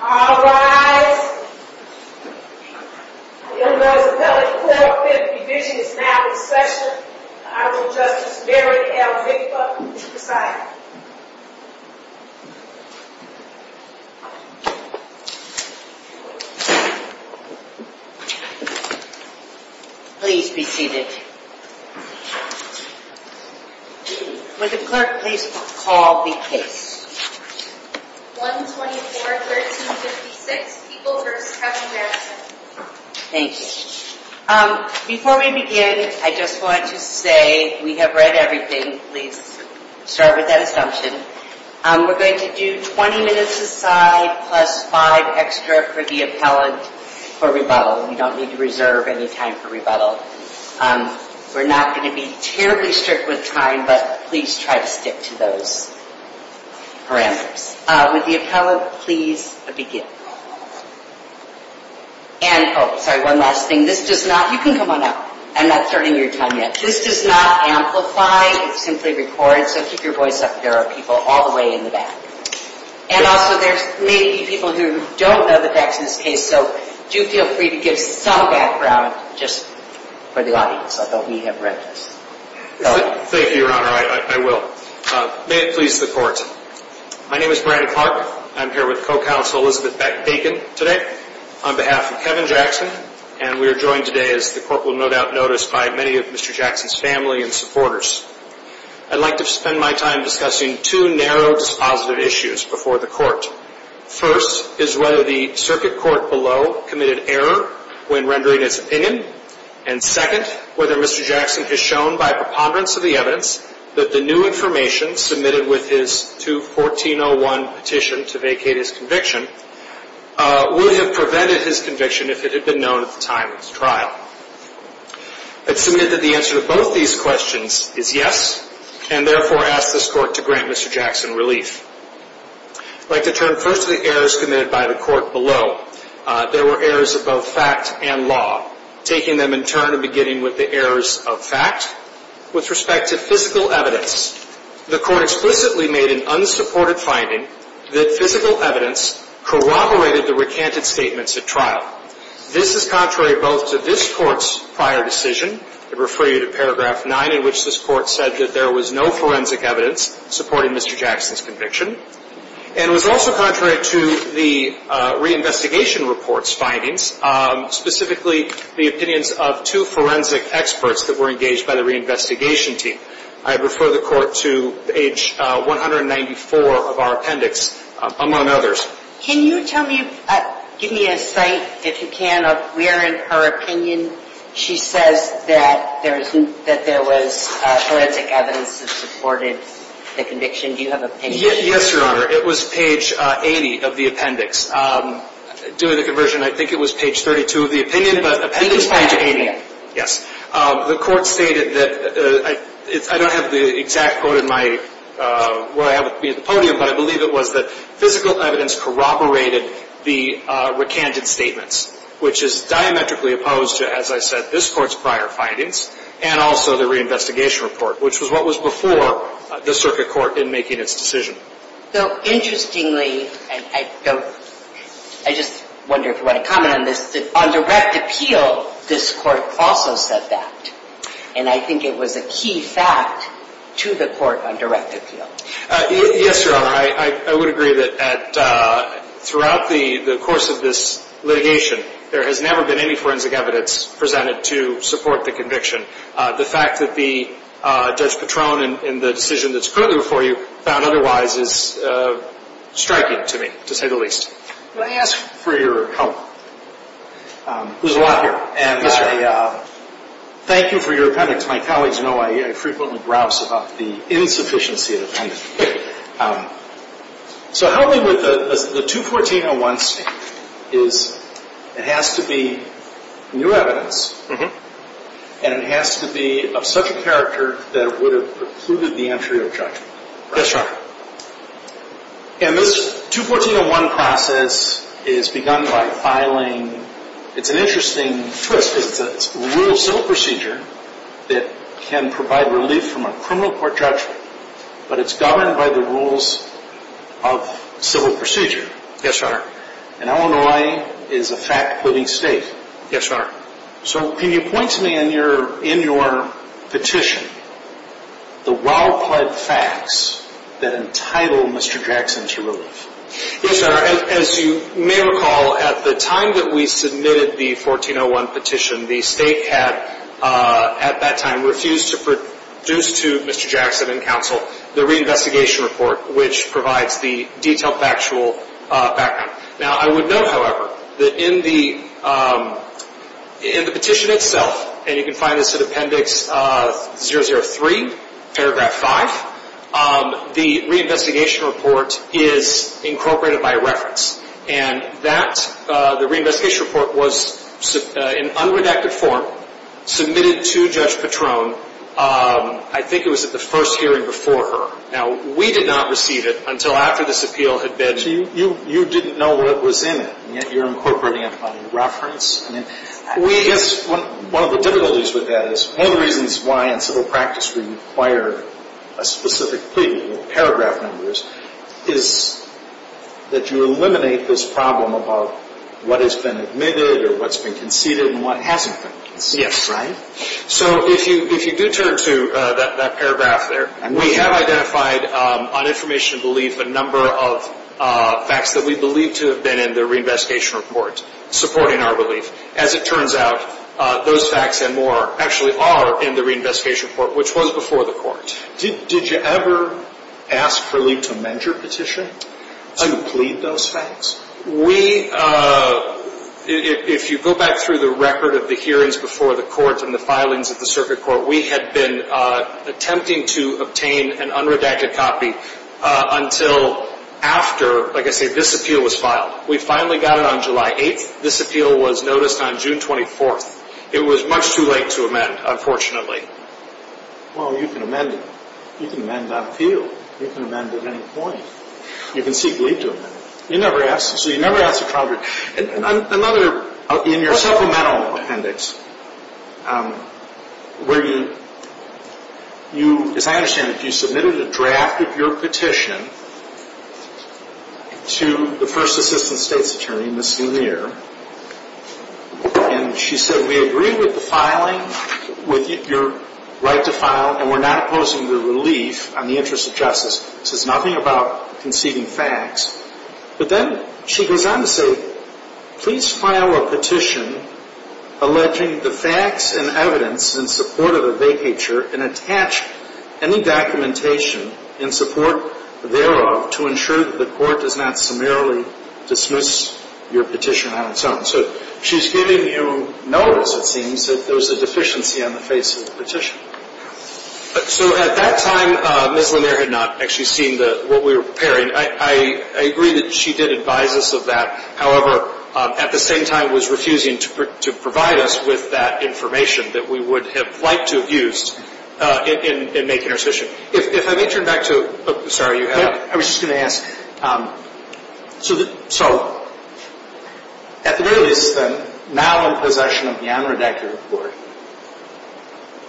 All rise. The University of Maryland 450 Division is now in session. I will Justice Mary L. Vickford preside. Please be seated. Would the clerk please call the case. 124-1356, People v. Kevin Jackson. Thank you. Before we begin, I just want to say we have read everything. Please start with that assumption. We're going to do 20 minutes aside plus 5 extra for the appellant for rebuttal. We don't need to reserve any time for rebuttal. We're not going to be terribly strict with time, but please try to stick to those. With the appellant, please begin. One last thing. You can come on up. I'm not starting your time yet. This does not amplify. It simply records, so keep your voice up if there are people all the way in the back. Also, there may be people who don't know the facts in this case, so do feel free to give some background just for the audience, although we have read this. Thank you, Your Honor. I will. May it please the Court. My name is Brandon Clark. I'm here with Co-Counsel Elizabeth Bacon today on behalf of Kevin Jackson, and we are joined today, as the Court will no doubt notice, by many of Mr. Jackson's family and supporters. I'd like to spend my time discussing two narrow dispositive issues before the Court. First is whether the circuit court below committed error when rendering its opinion, and second whether Mr. Jackson has shown, by preponderance of the evidence, that the new information submitted with his 2-1401 petition to vacate his conviction would have prevented his conviction if it had been known at the time of his trial. I'd submit that the answer to both these questions is yes, and therefore ask this Court to grant Mr. Jackson relief. I'd like to turn first to the errors committed by the Court below. There were errors of both fact and law, taking them in turn and beginning with the errors of fact. With respect to physical evidence, the Court explicitly made an unsupported finding that physical evidence corroborated the recanted statements at trial. This is contrary both to this Court's prior decision, I'd refer you to paragraph 9, in which this Court said that there was no forensic evidence supporting Mr. Jackson's conviction, and it was also contrary to the reinvestigation report's findings, specifically the opinions of two forensic experts that were engaged by the reinvestigation team. I'd refer the Court to page 194 of our appendix, among others. Can you give me a cite, if you can, of where in her opinion she says that there was forensic evidence that supported the conviction? Do you have an opinion? Yes, Your Honor. It was page 80 of the appendix. Due to the conversion, I think it was page 32 of the opinion, but appendix page 80. Yes. The Court stated that I don't have the exact quote in my, where I have it be at the podium, but I believe it was that physical evidence corroborated the recanted statements, which is diametrically opposed to, as I said, this Court's prior findings, and also the reinvestigation report, which was what was before the Circuit Court in making its decision. So, interestingly, I don't, I just wonder if you want to comment on this, on direct appeal, this Court also said that. And I think it was a key fact to the Court on direct appeal. Yes, Your Honor. I would agree that throughout the course of this litigation, there has never been any forensic evidence presented to support the conviction. The fact that the Judge Patron and the decision that's currently before you found otherwise is striking to me, to say the least. Can I ask for your help? There's a lot here. And I thank you for your appendix. My colleagues know I frequently browse about the insufficiency of the appendix. So help me with the 214-01 statement. It has to be new evidence, and it has to be of such a character that it would have precluded the entry of judgment. Yes, Your Honor. And this 214-01 process is begun by filing it's an interesting twist. It's a rule of civil procedure that can provide relief from a criminal court judgment, but it's governed by the rules of civil procedure. Yes, Your Honor. And Illinois is a fact-putting state. Yes, Your Honor. So can you point to me in your petition the well-pled facts that entitle Mr. Jackson to relief? Yes, Your Honor. As you may recall, at the time that we submitted the 14-01 petition, the state had, at that time, refused to produce to Mr. Jackson and counsel the reinvestigation report, which provides the detailed factual background. Now, I would note, however, that in the petition itself, and you can find this in Appendix 003, Paragraph 5, the reinvestigation report is incorporated by reference. And that, the reinvestigation report was in unredacted form submitted to Judge Patron I think it was at the first hearing before her. Now, we did not receive it until after this appeal had been... So you didn't know what was in it, and yet you're incorporating it by reference? I guess one of the difficulties with that is one of the reasons why in civil practice we require a specific paragraph number is that you eliminate this problem about what has been admitted or what's been conceded and what hasn't been conceded. Yes, Your Honor. So if you do turn to that paragraph there, we have identified on information and belief a number of facts that we believe to have been in the reinvestigation report supporting our relief. As it turns out, those facts and more actually are in the reinvestigation report, which was before the Court. Did you ever ask for Lee to amend your petition to plead those facts? We... If you go back through the record of the hearings before the Court and the filings of the Circuit Court, we had been attempting to obtain an unredacted copy until after, like I say, this appeal was filed. We finally got it on July 8th. This appeal was noticed on June 24th. It was much too late to amend, unfortunately. Well, you can amend it. You can amend that appeal. You can amend it at any point. You can seek Lee to amend it. You never asked. So you never asked a trial judge. Another... In your supplemental appendix, where you... As I understand it, you submitted a draft of your petition to the First Assistant State's Attorney, Ms. Lumiere, and she said, we agree with the filing, with your right to file, and we're not opposing the relief on the interest of justice. This is nothing about conceding facts. But then she goes on to say, please file a petition alleging the facts and evidence in support of a vacature and attach any documentation in support thereof to ensure that the court does not summarily dismiss your petition on its own. So she's giving you notice, it seems, that there's a deficiency on the face of the petition. So at that time, Ms. Lumiere had not actually seen what we were preparing. I agree that she did advise us of that. However, at the same time was refusing to provide us with that information that we would have liked to have used in making our decision. If I may turn back to... Sorry, you had... I was just going to ask... So, at the very least, then, now in possession of the unredacted report,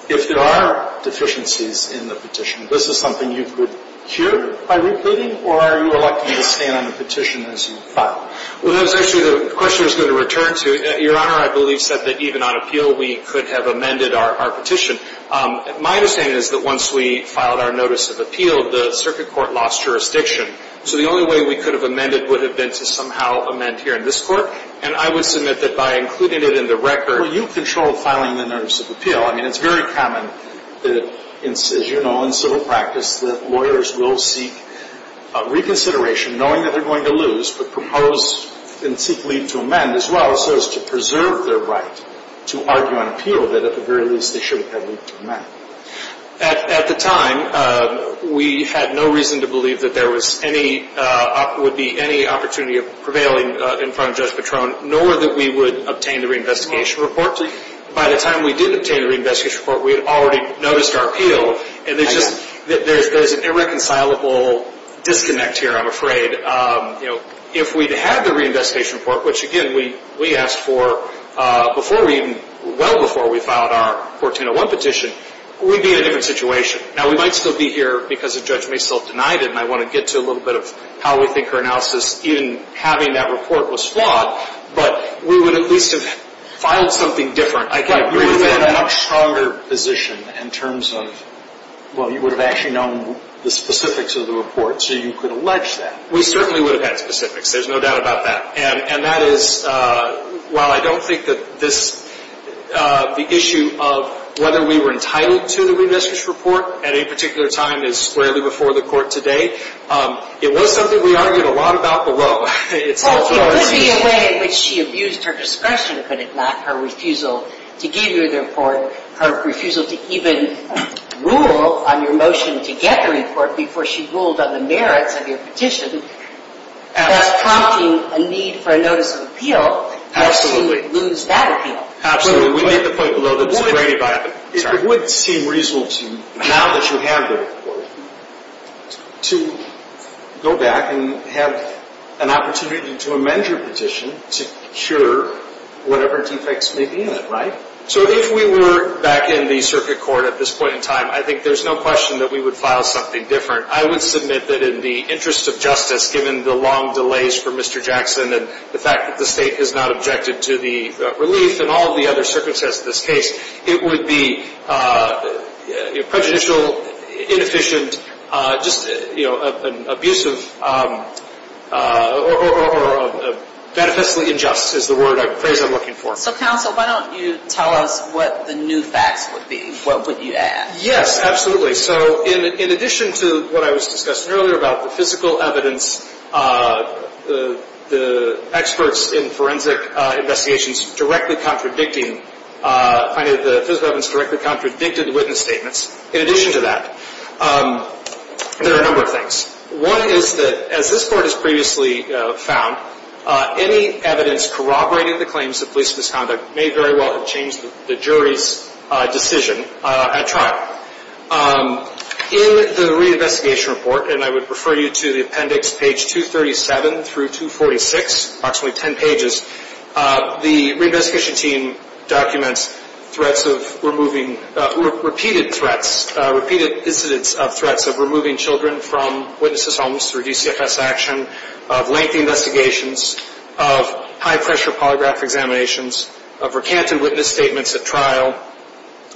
if there are deficiencies in the petition, this is something you could cure by repeating, or are you electing to stand on the petition as you file? Well, that was actually the question I was going to return to. Your Honor, I believe, said that even on appeal we could have amended our petition. My understanding is that once we filed our notice of appeal, the circuit court lost jurisdiction. So the only way we could have amended would have been to somehow amend here in this court. And I would submit that by including it in the record... Well, you control filing the notice of appeal. I mean, it's very common, as you know, in civil practice that lawyers will seek reconsideration, knowing that they're going to lose, but propose and seek leave to amend, as well as to preserve their right to argue on appeal that, at the very least, they should have had leave to amend. At the time, we had no reason to believe that there would be any opportunity of prevailing in front of Judge Patron, nor that we would obtain the reinvestigation report. By the time we did obtain the reinvestigation report, we had already noticed our appeal, and there's an irreconcilable disconnect here, I'm afraid. If we'd had the reinvestigation report, which, again, we asked for well before we filed our 1401 petition, we'd be in a different situation. Now, we might still be here because Judge Masel denied it, and I want to get to a little bit of how we think her analysis in having that report was flawed, but we would at least have filed something different. I can agree with that. But you would have had a much stronger position in terms of, well, you would have actually known the specifics of the report, so you could allege that. We certainly would have had specifics. There's no doubt about that. And that is, while I don't think that this issue of whether we were entitled to the reinvestigation report at any particular time is squarely before the Court today, it was something we argued a lot about below. Well, it could be a way in which she abused her discretion, could it not? Her refusal to give you the report, her refusal to even rule on your motion to get the report before she ruled on the merits of your petition that's prompting a need for a notice of appeal to lose that appeal. It would seem reasonable to, now that you have the report, to go back and have an opportunity to amend your petition to cure whatever defects may be in it, right? So if we were back in the Circuit Court at this point in time, I think there's no question that we would file something different. I would submit that in the interest of justice, given the long delays for Mr. Jackson and the fact that the State has not objected to the relief and all of the other circumstances of this case, it would be prejudicial, inefficient, just abusive, or beneficially unjust is the phrase I'm looking for. So, counsel, why don't you tell us what the new facts would be? What would you add? Yes, absolutely. So, in addition to what I was discussing earlier about the physical evidence the experts in forensic investigations directly contradicting the witness statements, in addition to that, there are a number of things. One is that, as this Court has previously found, any evidence corroborating the claims of police misconduct may very well have changed the jury's decision at trial. In the re-investigation report, and I would refer you to the appendix page 237 through 246, approximately 10 pages, the re-investigation team documents threats of removing, repeated threats, repeated incidents of threats of removing children from witnesses' homes through DCFS action, of lengthy investigations, of high-pressure polygraph examinations, of recanted witness statements at trial,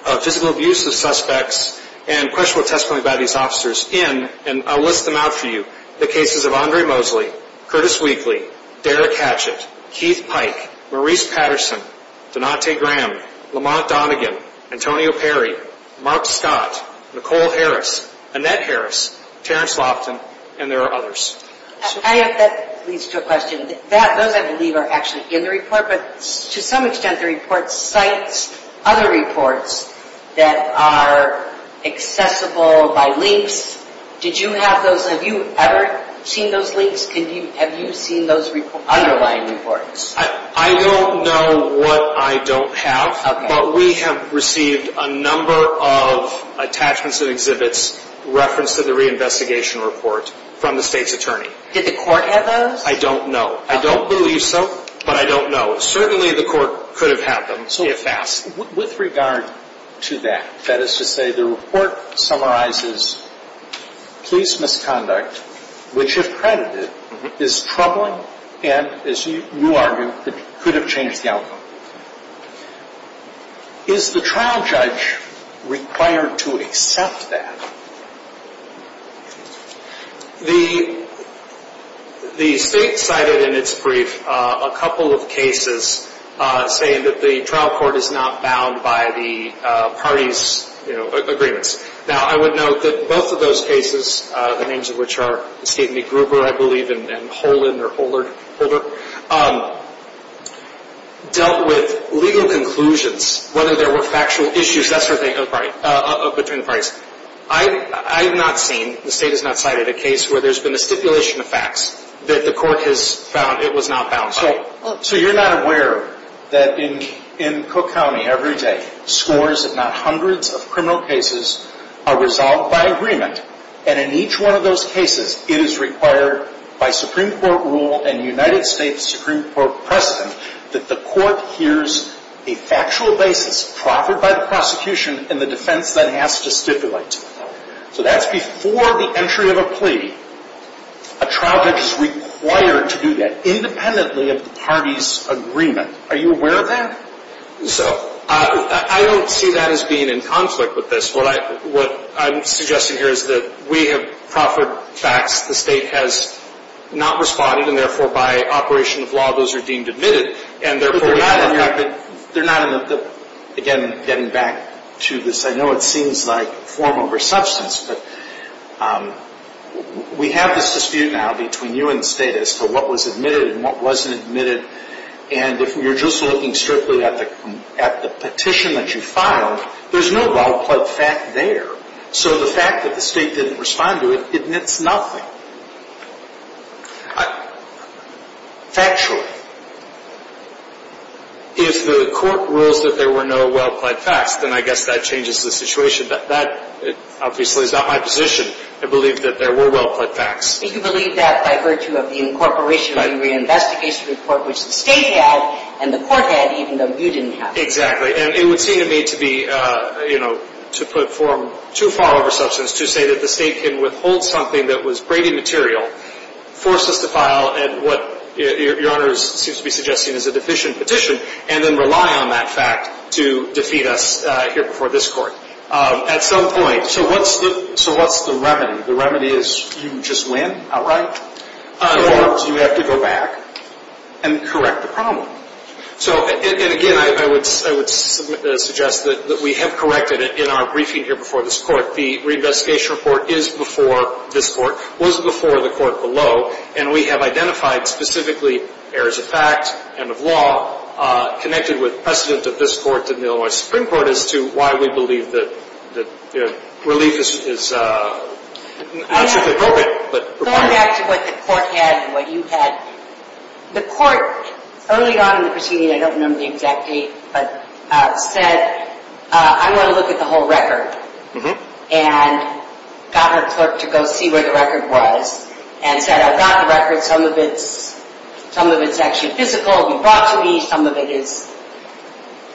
of physical abuse of suspects, and questionable testimony by these officers in, and I'll list them out for you, the cases of Andre Mosley, Curtis Weakley, Derek Hatchett, Keith Pike, Maurice Patterson, Donate Graham, Lamont Donegan, Antonio Perry, Mark Scott, Nicole Harris, Annette Harris, Terence Loftin, and there are others. That leads to a question. Those, I believe, are actually in the report, but to some extent the report cites other reports that are accessible by links. Did you have those, have you ever seen those links? Have you seen those underlying reports? I don't know what I don't have, but we have received a number of attachments and exhibits referenced in the re-investigation report from the state's attorney. Did the court have those? I don't know. I don't believe so, but I don't know. Certainly the court could have had them, if asked. With regard to that, that is to say, the report summarizes police misconduct, which if credited is troubling and, as you argue, could have changed the outcome. Is the trial judge required to accept that? The state cited in its brief a couple of cases saying that the trial court is not bound by the party's agreements. Now, I would note that both of those cases, the names of which are Steve McGruber, I believe, and Holder, dealt with legal conclusions, whether there were factual issues between the parties. I have not seen, the state has not cited, a case where there's been a stipulation of facts that the court has found it was not bound by. So you're not aware that in Cook County every day scores, if not hundreds of criminal cases, are resolved by agreement, and in each one of those cases, it is required by Supreme Court rule and United States Supreme Court precedent that the court hears a factual basis proffered by the prosecution in the defense that it has to stipulate. So that's before the entry of a plea, a trial judge is required to do that, independently of the party's agreement. Are you aware of that? I don't see that as being in conflict with this. What I'm suggesting here is that we have proffered facts, the state has not responded, and therefore by operation of law, those are deemed admitted. Again, getting back to this, I know it seems like form over substance, but we have this dispute now between you and the state as to what was admitted and what wasn't admitted, and if you're just looking strictly at the petition that you filed, there's no well-pled fact there. So the fact that the state didn't respond to it, it's nothing. Factually, if the court rules that there were no well-pled facts, then I guess that changes the situation. That obviously is not my position. I believe that there were well-pled facts. But you believe that by virtue of the incorporation of the reinvestigation report, which the state had, and the court had, even though you didn't have it. Exactly. And it would seem to me to be, you know, to put form too far over substance to say that the state can withhold something that was brainy material, force us to file at what Your Honor seems to be suggesting is a deficient petition, and then rely on that fact to defeat us here before this court. At some point... So what's the remedy? The remedy is you just win outright? Or do you have to go back and correct the problem? And again, I would suggest that we have corrected it in our briefing here before this court. The reinvestigation report is before this court, was before the court below, and we have identified specifically errors of fact and of law connected with precedent of this court to the Illinois Supreme Court as to why we believe that relief is not strictly appropriate. Going back to what the court had and what you had, the court, early on in the proceeding, I don't remember the exact date, but said, I want to look at the whole record. And got her to go see where the record was and said, I brought the record, some of it's actually physical, it was brought to me, some of it is...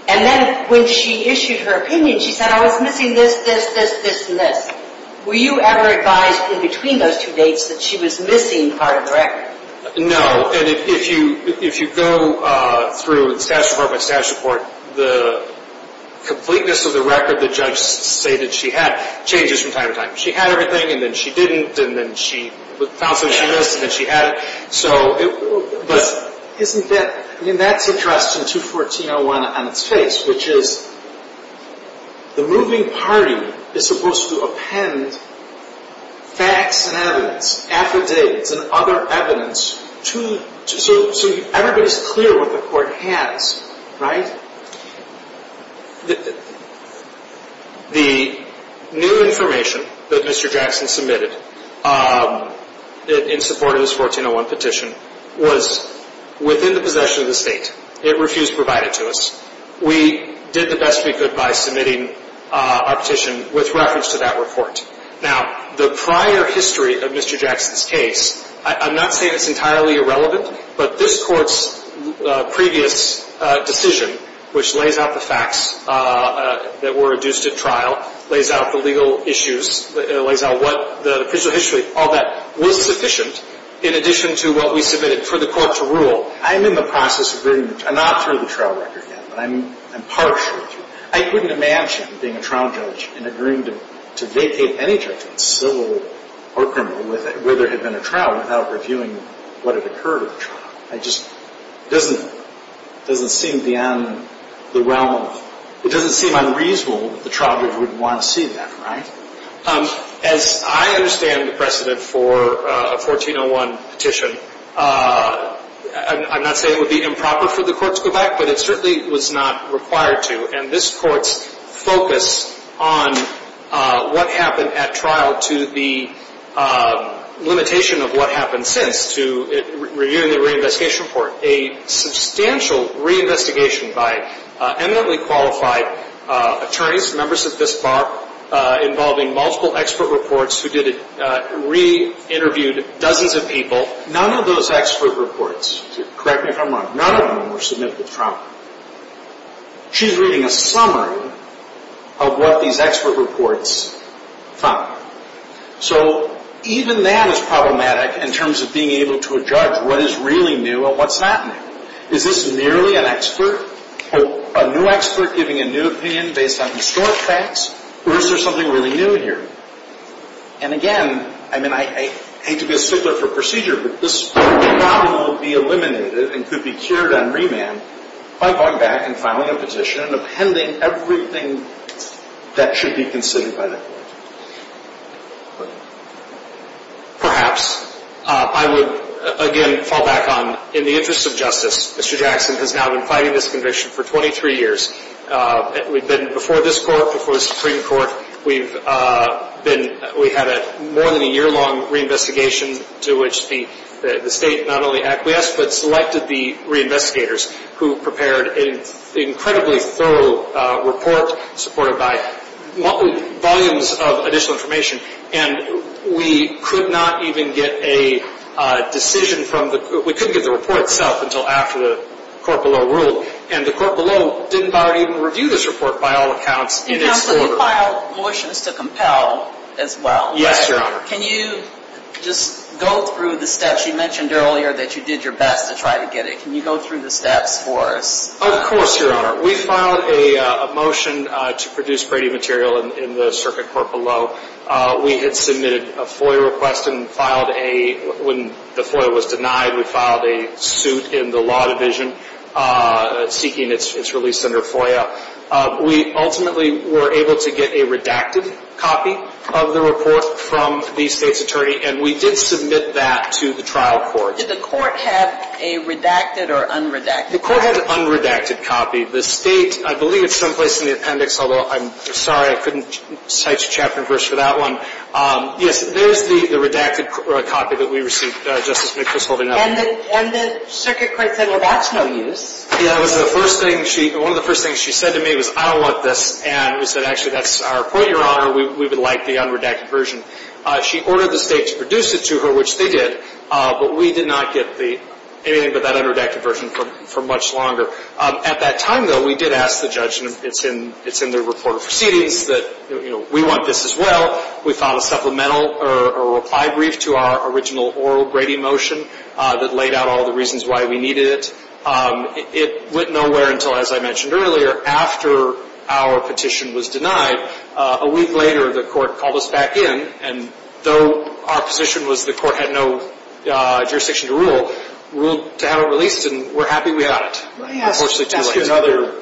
And then when she issued her opinion, she said, I was missing this, this, this, this, and this. Were you ever advised in between those two dates that she was missing part of the record? No, and if you go through the statute report by statute report, the completeness of the record the judge stated she had changes from time to time. She had everything, and then she didn't, and then she found something she missed, and then she had it. Isn't that, I mean, that's addressed in 214.01 on its face, which is the moving party is supposed to append facts and evidence, affidavits and other evidence, so everybody's clear what the court has, right? The new information that Mr. Jackson submitted in support of this 1401 petition was within the possession of the state. It refused to provide it to us. We did the best we could by submitting our petition with reference to that report. Now, the prior history of Mr. Jackson's case, I'm not saying it's entirely irrelevant, but this court's previous decision, which lays out the facts that were induced at trial, lays out the legal issues, lays out what the official history, all that, was sufficient in addition to what we submitted for the court to rule. I'm in the process of reading, not through the trial record yet, but I'm partially through. I couldn't imagine being a trial judge and agreeing to vacate any judgment, civil or criminal, where there had been a trial without reviewing what had occurred at the trial. It just doesn't seem beyond the realm of, it doesn't seem unreasonable that the trial judge would want to see that, right? As I understand the precedent for a 1401 petition, I'm not saying it would be improper for the court to go back, but it certainly was not required to. And this court's focus on what happened at trial to the limitation of what happened since, to reviewing the reinvestigation report, a substantial reinvestigation by eminently qualified attorneys, members of this bar, involving multiple expert reports who re-interviewed dozens of people. None of those expert reports, correct me if I'm wrong, none of them were submitted to trial. She's reading a summary of what these expert reports found. So even that is problematic in terms of being able to judge what is really new and what's not new. Is this merely an expert or a new expert giving a new opinion based on historic facts or is there something really new here? And again, I mean, I hate to be a stickler for procedure, but this problem will be eliminated and could be cured on remand by going back and filing a petition and appending everything that should be considered by the court. Perhaps I would again fall back on, in the interest of justice, Mr. Jackson has now been fighting this conviction for 23 years. We've been, before this Court, before the Supreme Court, we've had more than a year-long reinvestigation to which the State not only acquiesced, but selected the reinvestigators who prepared an incredibly thorough report supported by volumes of additional information, and we could not even get a decision from the we couldn't get the report itself until after the court below ruled. And the court below didn't even review this report by all accounts. You filed motions to compel as well. Yes, Your Honor. Can you just go through the steps? You mentioned earlier that you did your best to try to get it. Can you go through the steps for us? Of course, Your Honor. We filed a motion to produce Brady material in the circuit court below. We had submitted a FOIA request and filed a when the FOIA was denied, we filed a suit in the law division seeking its release under FOIA. We ultimately were able to get a redacted copy of the report from the State's attorney, and we did submit that to the trial court. Did the court have a redacted or unredacted copy? The court had an unredacted copy. The State, I believe it's someplace in the appendix, although I'm sorry I couldn't cite your chapter and verse for that one. Yes, there's the redacted copy that we received, Justice McPherson. And the circuit court said, well, that's no use. Yeah, it was the first thing she said to me was, I don't want this. And we said, actually, that's our point, Your Honor. We would like the unredacted version. She ordered the State to produce it to her, which they did, but we did not get anything but that unredacted version for much longer. At that time, though, we did ask the judge, and it's in the report of proceedings, that we want this as well. We filed a supplemental or a reply brief to our original oral grading motion that laid out all the reasons why we needed it. It went nowhere until, as I mentioned earlier, after our petition was denied. A week later, the court called us back in, and though our position was the court had no jurisdiction to rule, ruled to have it released, and we're happy we got it. Let me ask you another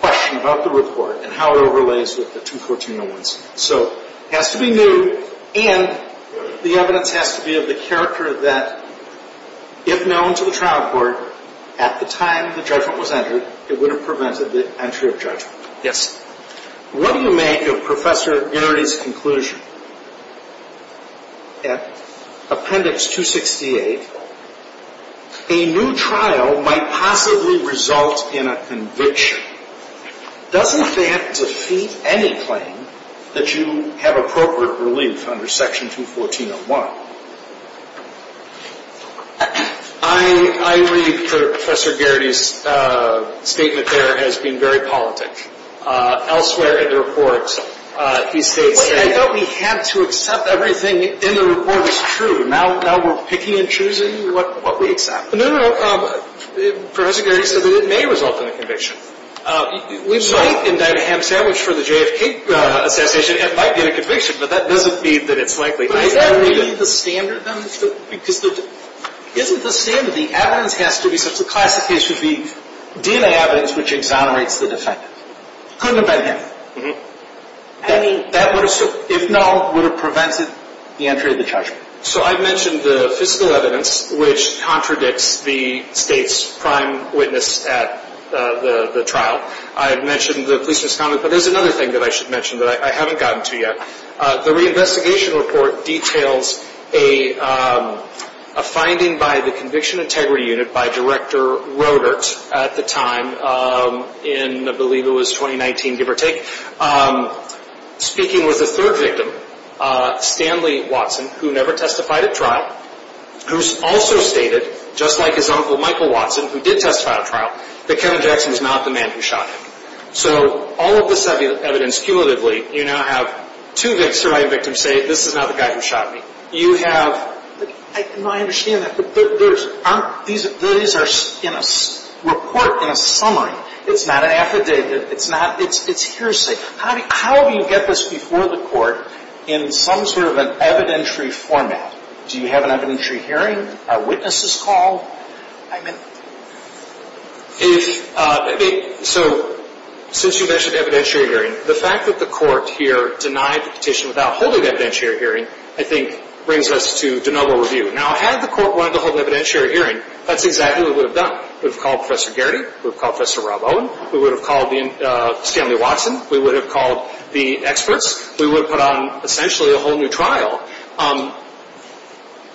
question about the report and how it overlays with the 214-01. So it has to be new, and the evidence has to be of the character that, if known to the trial court, at the time the judgment was entered, it would have prevented the entry of judgment. Yes. What do you make of Professor Inerdy's conclusion? Appendix 268, a new trial might possibly result in a conviction. Doesn't that defeat any claim that you have appropriate relief under Section 214-01? I read Professor Geraghty's statement there as being very politic. Elsewhere in the report, he states that... I thought we had to accept everything in the report was true. Now we're picking and choosing what we accept. No, no, no. Professor Geraghty said that it may result in a conviction. We might indict a ham sandwich for the JFK assassination, and it might get a conviction, but that doesn't mean that it's likely. Is that really the standard, then? Isn't the standard, the evidence has to be such that the classic case would be DNA evidence which exonerates the defendant. Couldn't have been him. That would have, if known, would have prevented the entry of the judgment. So I've mentioned the fiscal evidence, which contradicts the state's prime witness at the trial. I've mentioned the police misconduct, but there's another thing that I should mention that I haven't gotten to yet. The reinvestigation report details a finding by the Conviction Integrity Unit by Director Roedert at the time in, I believe it was 2019, give or take, speaking with the third victim, Stanley Watson, who never testified at trial, who also stated, just like his uncle Michael Watson, who did testify at trial, that Kevin Jackson was not the man who shot him. So all of this evidence, cumulatively, you now have two surviving victims say, this is not the guy who shot me. You have, I understand that, but these are in a report, in a summary. It's not an affidavit. It's hearsay. How do you get this before the court in some sort of an evidentiary format? Do you have an evidentiary hearing? Are witnesses called? I mean... Since you mentioned evidentiary hearing, the fact that the court here denied the petition without holding evidentiary hearing, I think, brings us to de novo review. Now, had the court wanted to hold an evidentiary hearing, that's exactly what it would have done. We would have called Professor Garrity. We would have called Professor Rob Owen. We would have called Stanley Watson. We would have called the experts. We would have put on essentially a whole new trial.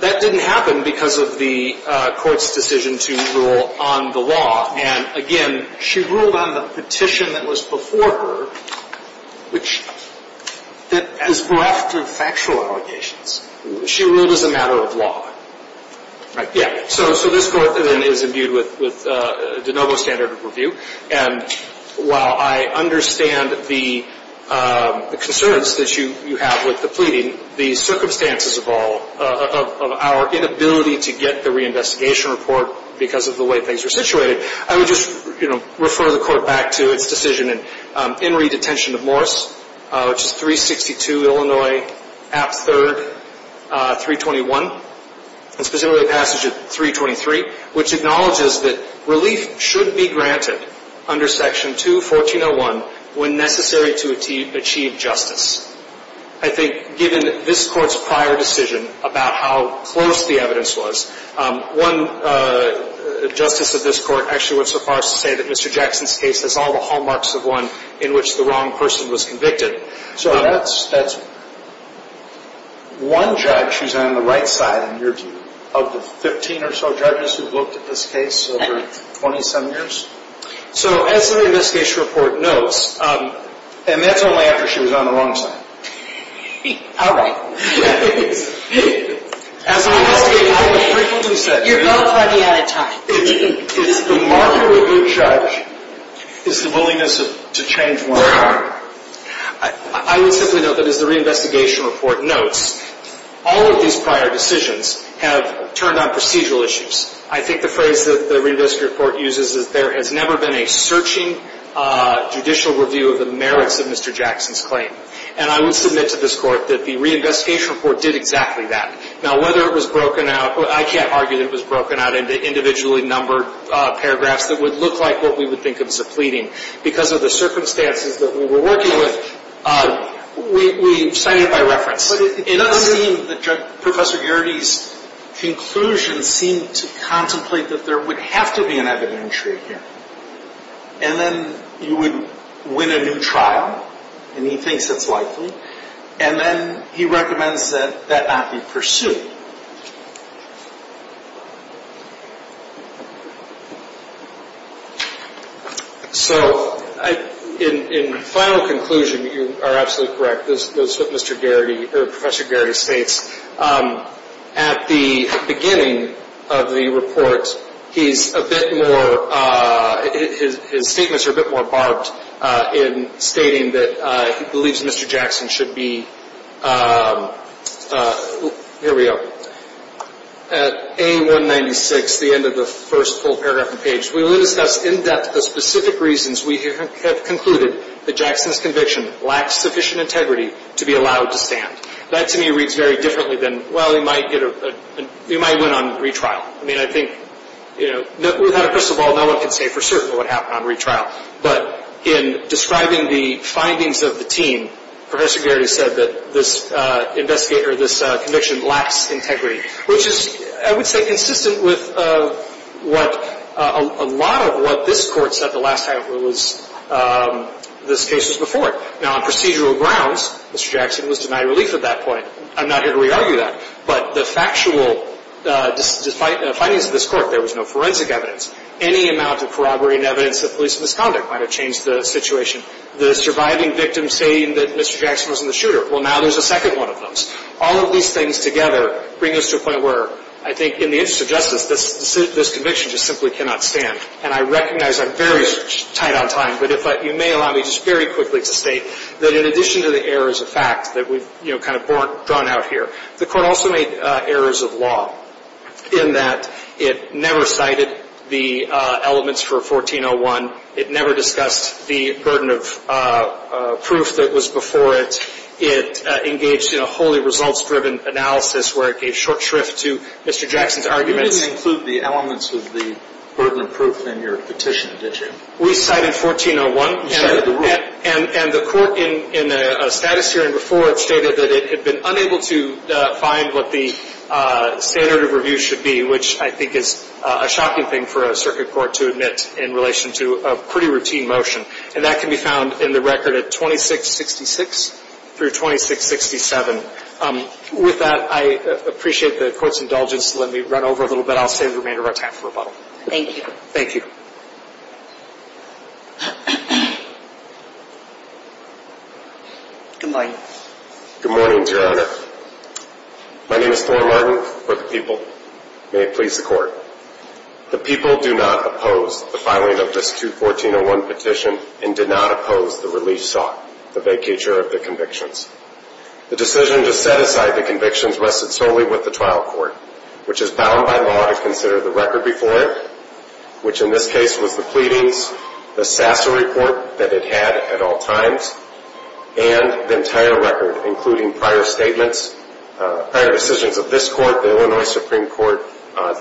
That didn't happen because of the court's decision to rule on the law and, again, she ruled on the petition that was before her which is bereft of factual allegations. She ruled as a matter of law. So this court then is imbued with de novo standard of review and while I understand the concerns that you have with the pleading, the circumstances of our inability to get the reinvestigation report because of the way things are situated, I would just refer the court back to its decision in re-detention of Morris, which is 362 Illinois, Act 3, 321 and specifically the passage of 323, which acknowledges that relief should be granted under Section 2, 1401 when necessary to achieve justice. I think given this court's prior decision about how close the evidence was one justice of this court actually went so far as to say that Mr. Jackson's case has all the hallmarks of one in which the wrong person was convicted. So that's one judge who's on the right side, in your view, of the 15 or so judges who've looked at this case over 27 years? So as the reinvestigation report notes, and that's only after she was on the wrong side. You're both running out of time. It's the market review judge is the willingness to change one. I would simply note that as the reinvestigation report notes, all of these prior decisions have turned on procedural issues. I think the phrase that the reinvestigation report uses is there has never been a searching judicial review of the merits of Mr. Jackson's claim. And I would submit to this court that the reinvestigation report did exactly that. Now, whether it was broken out, I can't argue that it was broken out into individually numbered paragraphs that would look like what we would think of as a pleading. Because of the circumstances that we were working with, we cited it by reference. But it does seem that Professor Geraghty's conclusions seem to contemplate that there would have to be an evidentiary here. And then you would win a new trial and he thinks that's likely. And then he recommends that that not be pursued. So in final conclusion, you are absolutely correct. As Professor Geraghty states, at the beginning of the report, he's a bit more, his statements are a bit more barbed in stating that he believes Mr. Jackson should be, here we go, at A196, the end of the first full paragraph and page, we will discuss in depth the specific reasons we have concluded that Jackson's conviction lacks sufficient integrity to be allowed to stand. That to me reads very differently than, well, he might win on retrial. I mean, I think, you know, without a crystal ball, no one can say for certain what happened on retrial. But in describing the findings of the team, Professor Geraghty said that this conviction lacks integrity, which is, I would say, consistent with what a lot of what this Court said the last time this case was before it. Now, on procedural grounds, Mr. Jackson was denied relief at that point. I'm not here to re-argue that. But the factual findings of this Court, there was no forensic evidence. Any amount of corroborating evidence of police misconduct might have changed the situation. The surviving victim saying that Mr. Jackson was in the shooter, well, now there's a second one of those. All of these things together bring us to a point where I think in the interest of justice, this conviction just simply cannot stand. And I recognize I'm very tight on time, but if I, you may allow me just very quickly to state that in addition to the errors of fact that we've, you know, kind of drawn out here, the Court also made errors of law in that it never cited the elements for 1401. It never discussed the burden of proof that was before it. It engaged in a wholly results-driven analysis where it gave short shrift to Mr. Jackson's arguments. You didn't include the elements of the burden of proof in your petition, did you? We cited 1401. And the Court in a status hearing before it stated that it had been unable to find what the standard of review should be, which I think is a shocking thing for a circuit court to admit in relation to a pretty routine motion. And that can be found in the record at 2666 through 2667. With that, I appreciate the Court's indulgence. Let me run over a little bit. I'll save the remainder of our time for rebuttal. Thank you. Thank you. Good morning. Good morning, Your Honor. My name is Thorne Martin for the people. May it please the Court. The people do not oppose the filing of this 21401 petition and did not oppose the release sought, the vacature of the convictions. The decision to set aside the convictions rested solely with the trial court, which is bound by law to consider the record before it, which in this case was the pleadings, the SASA report that it had at all times, and the entire record, including prior statements, prior decisions of this Court, the Illinois Supreme Court,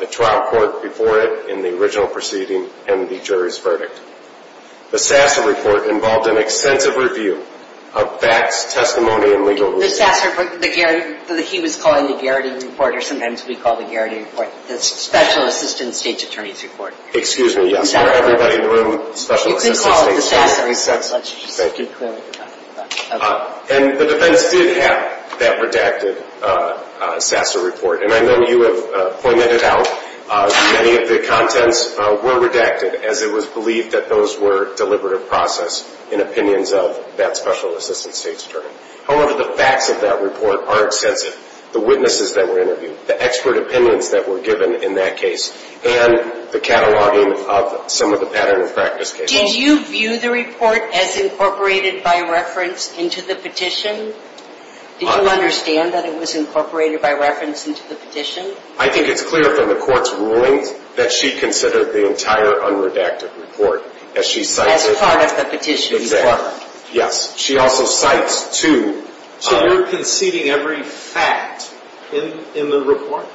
the trial court before it in the original proceeding, and the jury's verdict. The SASA report involved an extensive review of facts, testimony, and legal research. The SASA report, the Garrett, he was calling the Garrett report, the Special Assistant State's Attorney's report. Excuse me, yes. Everybody in the room, Special Assistant State's Attorney's report. You can call it the SASA report. Thank you. And the defense did have that redacted SASA report, and I know you have pointed it out. Many of the contents were redacted as it was believed that those were deliberative process in opinions of that Special Assistant State's Attorney. However, the facts of that report are extensive. The witnesses that were interviewed, the expert opinions that were given in that case, and the cataloging of some of the pattern of practice cases. Did you view the report as incorporated by reference into the petition? Did you understand that it was incorporated by reference into the petition? I think it's clear from the Court's rulings that she considered the entire unredacted report as she cites it. As part of the petition. Exactly. Yes. She also cites two. So you're conceding every fact in the report?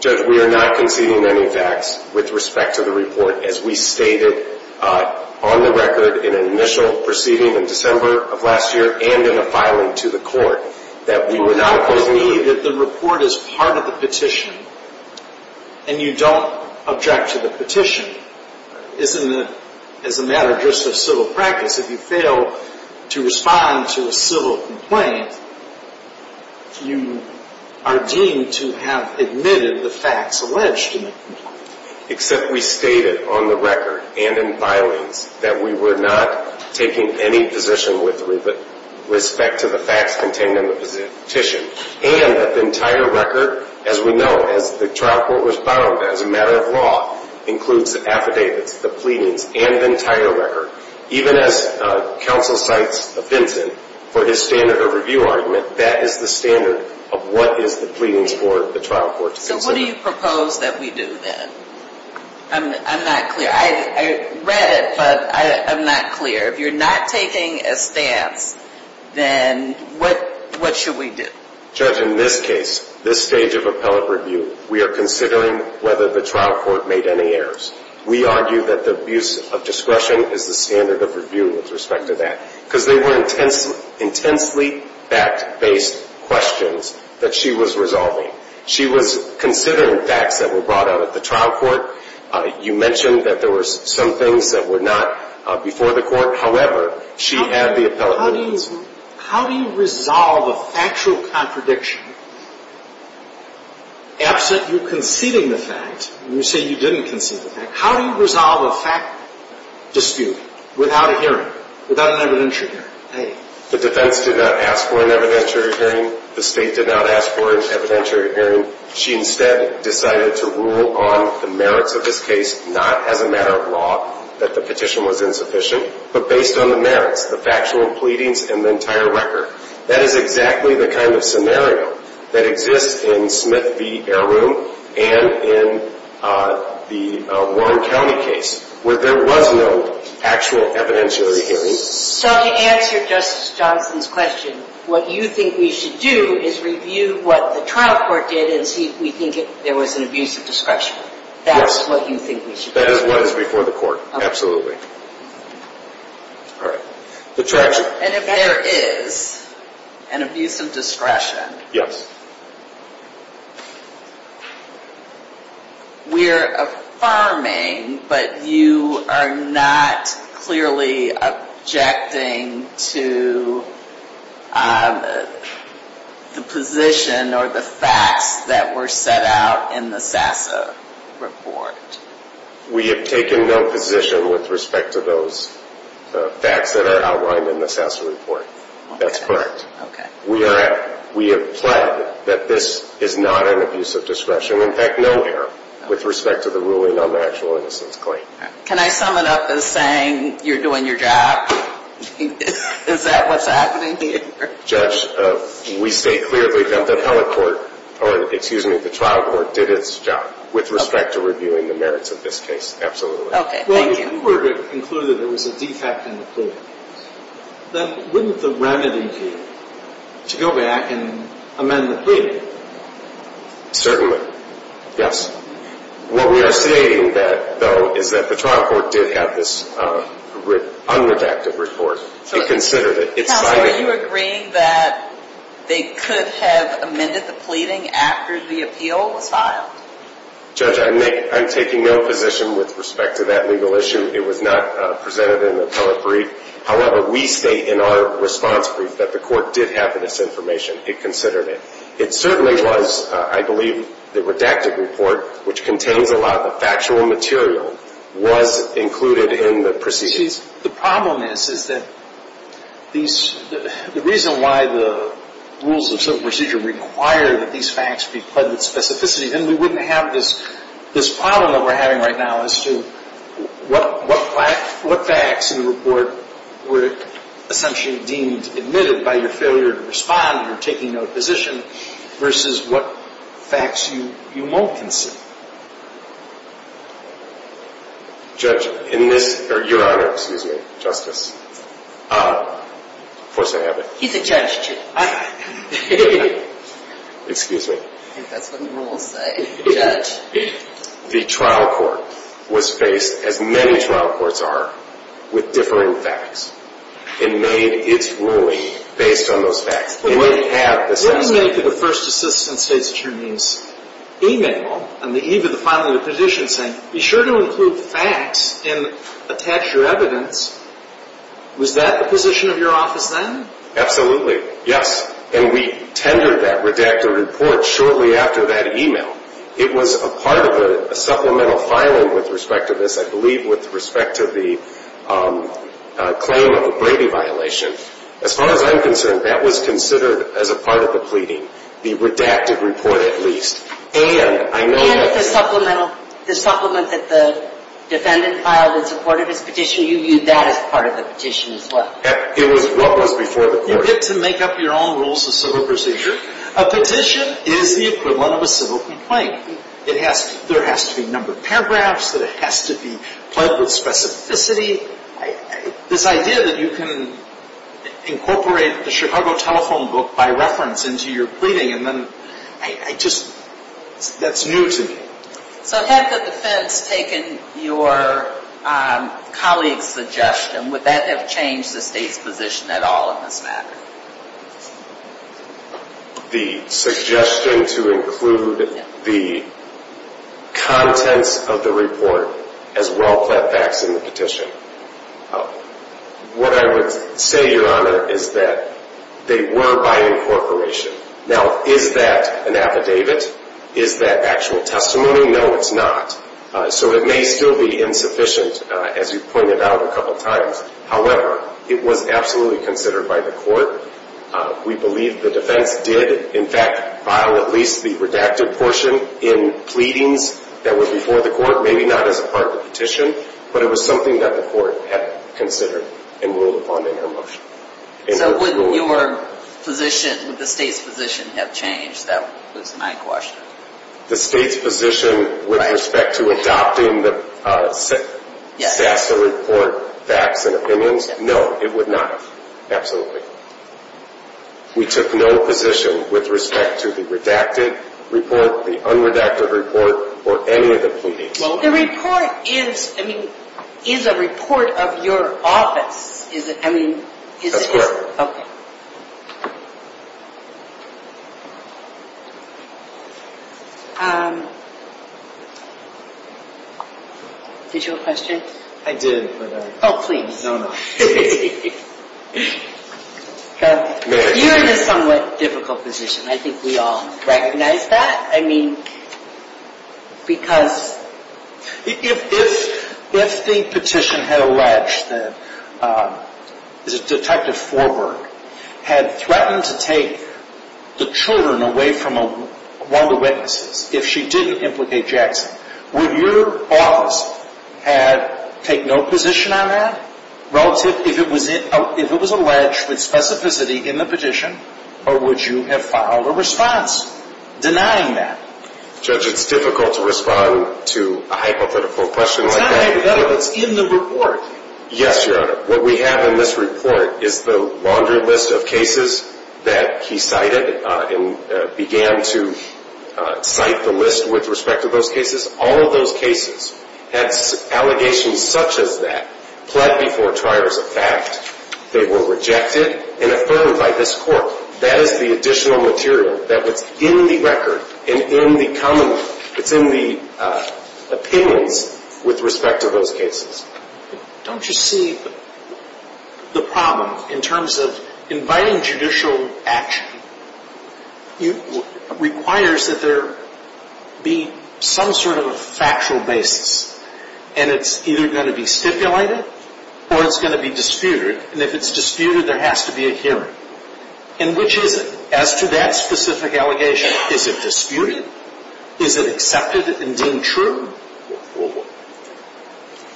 Judge, we are not conceding any facts with respect to the report as we stated on the record in an initial proceeding in December of last year and in a filing to the Court that we were not conceding any facts. The report is part of the petition, and you don't object to the petition. It's a matter just of civil practice. If you fail to respond to a civil complaint, you are deemed to have admitted the facts alleged in the complaint. Except we stated on the record and in filings that we were not taking any position with respect to the facts contained in the petition. And that the entire record, as we know, as the trial court was bound as a matter of law, includes the affidavits, the pleadings, and the entire record. Even as counsel cites Vincent for his standard of review argument, that is the standard of what is the pleadings for the trial court to consider. So what do you propose that we do then? I'm not clear. I read it, but I'm not clear. If you're not taking a stance, then what should we do? Judge, in this case, this stage of appellate review, we are considering whether the trial court made any errors. We argue that the abuse of discretion is the standard of review with respect to that. Because they were intensely fact-based questions that she was resolving. She was considering facts that were brought out at the trial court. You mentioned that there were some things that were not before the court. However, she had the appellate witness. How do you resolve a factual contradiction? Absent you conceding the fact, and you say you didn't concede the fact, how do you resolve a fact dispute without a hearing, without an evidentiary hearing? The defense did not ask for an evidentiary hearing. The state did not ask for an evidentiary hearing. She instead decided to rule on the merits of this case, not as a matter of law, that the petition was insufficient, but based on the merits, the factual pleadings, and the entire record. That is exactly the kind of scenario that exists in Smith v. Air Room and in the Warren County case, where there was no actual evidentiary hearing. So to answer Justice Johnson's question, what you think we should do is review what the trial court did and see if we think there was an abuse of discretion. That's what you think we should do. That is what is before the court, absolutely. And if there is an abuse of discretion, yes. We're affirming, but you are not clearly objecting to the position or the facts that were set out in the SASA report. We have taken no position with respect to those facts that are outlined in the SASA report. That's correct. We have pled that this is not an abuse of discretion. In fact, nowhere with respect to the ruling on the actual innocence claim. Can I sum it up as saying you're doing your job? Is that what's happening here? Judge, we state clearly that the appellate court, or excuse me, the trial court did its job with respect to reviewing the merits of this case, absolutely. Well, if you were to conclude that there was a defect in the plea, then wouldn't the remedy be to go back and amend the plea? Certainly. Yes. What we are stating, though, is that the trial court did have this unredacted report. Counsel, are you agreeing that they could have amended the pleading after the appeal was filed? Judge, I'm taking no position with respect to that legal issue. It was not presented in the appellate brief. However, we state in our response brief that the court did have this information. It considered it. It certainly was I believe the redacted report, which contains a lot of the factual material, was included in the proceedings. The problem is that the reason why the rules of civil procedure require that these facts be pled with specificity then we wouldn't have this problem that we're having right now as to what facts in the report were essentially deemed admitted by your failure to respond or taking no position versus what facts you won't concede. Your Honor, excuse me, Justice, of course I have it. He's a judge, too. Excuse me. I think that's what the rules say. The trial court was faced, as many trial courts are, with differing facts and made its ruling based on those facts. What do you make of the First Assistant State's Attorney's email on the eve of the filing of the petition saying, be sure to include facts and attach your evidence? Was that the position of your office then? Absolutely, yes. And we tendered that redacted report shortly after that email. It was a part of a supplemental filing with respect to this, I believe with respect to the claim of a Brady violation. As far as I'm concerned, that was considered as a part of the pleading, the redacted report at least. And I know that... And the supplement that the defendant filed in support of his petition, you used that as part of the petition as well? It was what was before the court. You get to make up your own rules of civil procedure. A petition is the equivalent of a civil complaint. There has to be numbered paragraphs, that it has to be pledged with specificity. This idea that you can incorporate the Chicago Telephone book by reference into your pleading and then... I just... That's new to me. So had the defense taken your colleague's suggestion, would that have changed the State's position at all in this matter? The suggestion to include the contents of the report as well-plaid facts in the petition. What I would say, Your Honor, is that they were by incorporation. Now, is that an affidavit? Is that actual testimony? No, it's not. So it may still be insufficient, as you pointed out a couple times. However, it was absolutely considered by the court. We believe the defense did, in fact, file at least the redacted portion in pleadings that were before the court. Maybe not as a part of the petition, but it was something that the court had considered and ruled upon in their motion. So would your position, the State's position, have changed? That was my question. The State's position with respect to adopting the stats that report facts and opinions? No, it would not. Absolutely. We took no position with respect to the redacted report, the unredacted report, or any of the pleadings. The report is a report of your office. That's correct. Okay. Did you have a question? I did, but I... Oh, please. No, no. You're in a somewhat difficult position. I think we all recognize that. I mean, because... If the petition had alleged that Detective Forberg had threatened to take the children away from one of the witnesses if she didn't implicate Jackson, would your office take no position on that relative... If it was alleged with specificity in the petition, or would you have filed a response denying that? Judge, it's difficult to respond to a hypothetical question like that. It's not hypothetical. It's in the report. Yes, Your Honor. What we have in this report is the laundry list of cases that he cited and began to cite the list with respect to those cases. All of those cases had allegations such as that pled before triars of fact. They were rejected and affirmed by this court. That is the additional material that's in the record and in the commonwealth. It's in the opinions with respect to those cases. Don't you see the problem in terms of inviting judicial action requires that there be some sort of a factual basis. And it's either going to be stipulated or it's going to be disputed. And if it's disputed there has to be a hearing. And which is it? As to that specific allegation, is it disputed? Is it accepted and deemed true?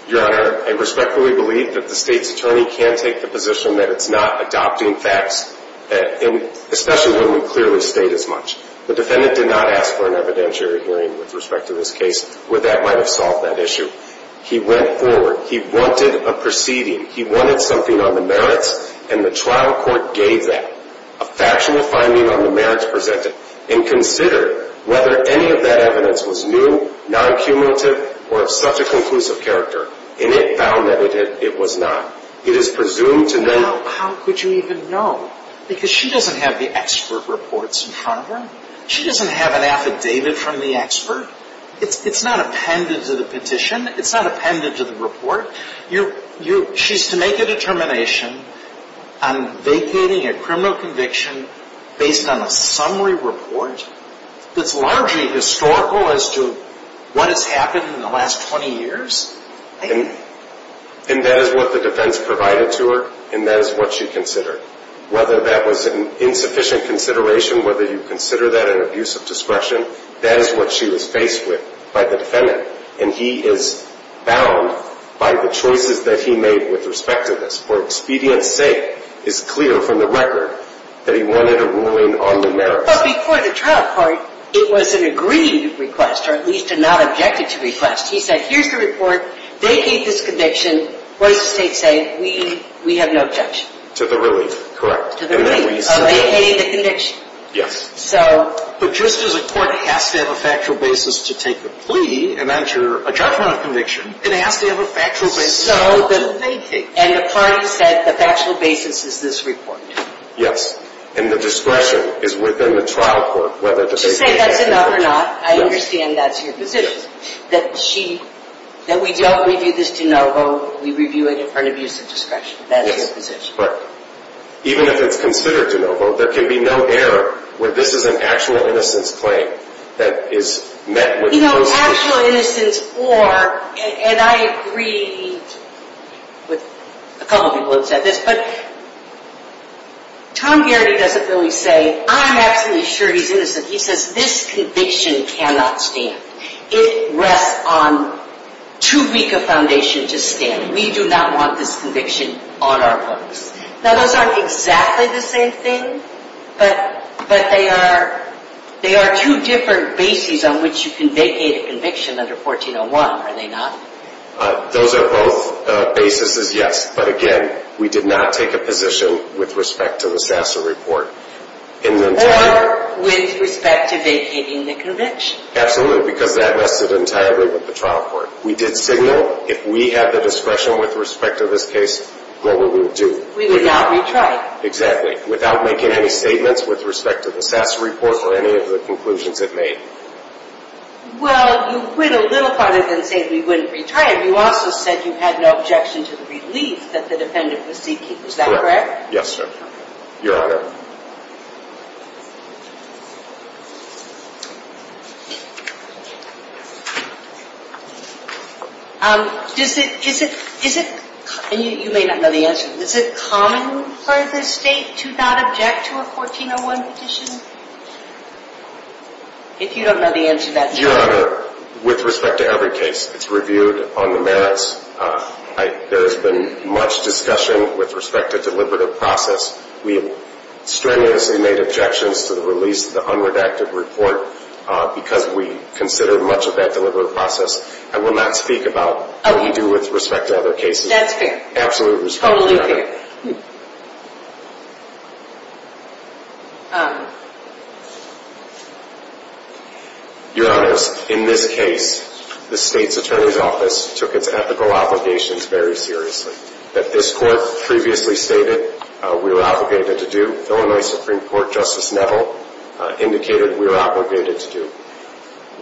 Your Honor, I respectfully believe that the state's attorney can take the position that it's not adopting facts especially when we clearly state as much. The defendant did not ask for an evidentiary hearing with respect to this case where that might have solved that issue. He went forward. He wanted a proceeding. He wanted something on the merits and the trial court gave that. A factual finding on the merits presented. And consider whether any of that evidence was new, non-cumulative, or of such a conclusive character. And it found that it was not. It is presumed to know. How could you even know? Because she doesn't have the expert reports in front of her. She doesn't have an affidavit from the expert. It's not appended to the petition. It's not appended to the report. She's to make a determination on vacating a criminal conviction based on a summary report that's largely historical as to what has happened in the last 20 years. And that is what the defense provided to her and that is what she considered. Whether that was an insufficient consideration, whether you consider that an abuse of discretion, that is what she was faced with by the defendant. And he is bound by the choices that he made with respect to this. For expedience's sake, it's clear from the record that he wanted a ruling on the merits. But before the trial court, it was an agreed request, or at least a not-objected-to request. He said, here's the report, vacate this conviction. What does the state say? We have no objection. To the relief, correct. To the relief of vacating the conviction. Yes. But just as a court has to have a factual basis to take the plea and enter a judgment of conviction, it has to have a factual basis to vacate. And the parties said the factual basis is this report. Yes. And the discretion is within the trial court whether to vacate or not. To say that's enough or not, I understand that's your position. That she, that we don't review this de novo, we review it for an abuse of discretion. That's your position. Even if it's considered de novo, there can be no error where this is an actual innocence claim that is met with prosecution. You know, actual innocence or, and I agreed with a couple people who said this, but Tom Garrity doesn't really say, I'm absolutely sure he's innocent. He says this conviction cannot stand. It rests on too weak a foundation to stand. We do not want this conviction on our books. Now those aren't exactly the same thing, but they are two different bases on which you can vacate a conviction under 1401, are they not? Those are both basis is yes, but again, we did not take a position with respect to the Sasser report. Or with respect to vacating the conviction. Absolutely, because that rested entirely with the trial court. We did signal if we had the discretion with respect to this case, what would we do? We would not retry. Exactly. Without making any statements with respect to the Sasser report or any of the conclusions it made. Well, you went a little farther than saying we wouldn't retry it. You also said you had no objection to the relief that the defendant was seeking. Is that correct? Yes, sir. Your Honor. Does it, is it, is it, and you may not know the answer, is it common for the state to not object to a 1401 petition? If you don't know the answer, that's fine. Your Honor, with respect to every case, it's reviewed on the merits. There has been much discussion with respect to deliberative process. We have strenuously made objections to the release of the unredacted report because we consider much of that deliberative process. I will not speak about what we do with respect to other cases. That's fair. Absolutely. Totally fair. Your Honor, in this case, the state's attorney's office took its ethical obligations very seriously. That this court previously stated we were obligated to do, Illinois Supreme Court Justice Neville indicated we were obligated to do.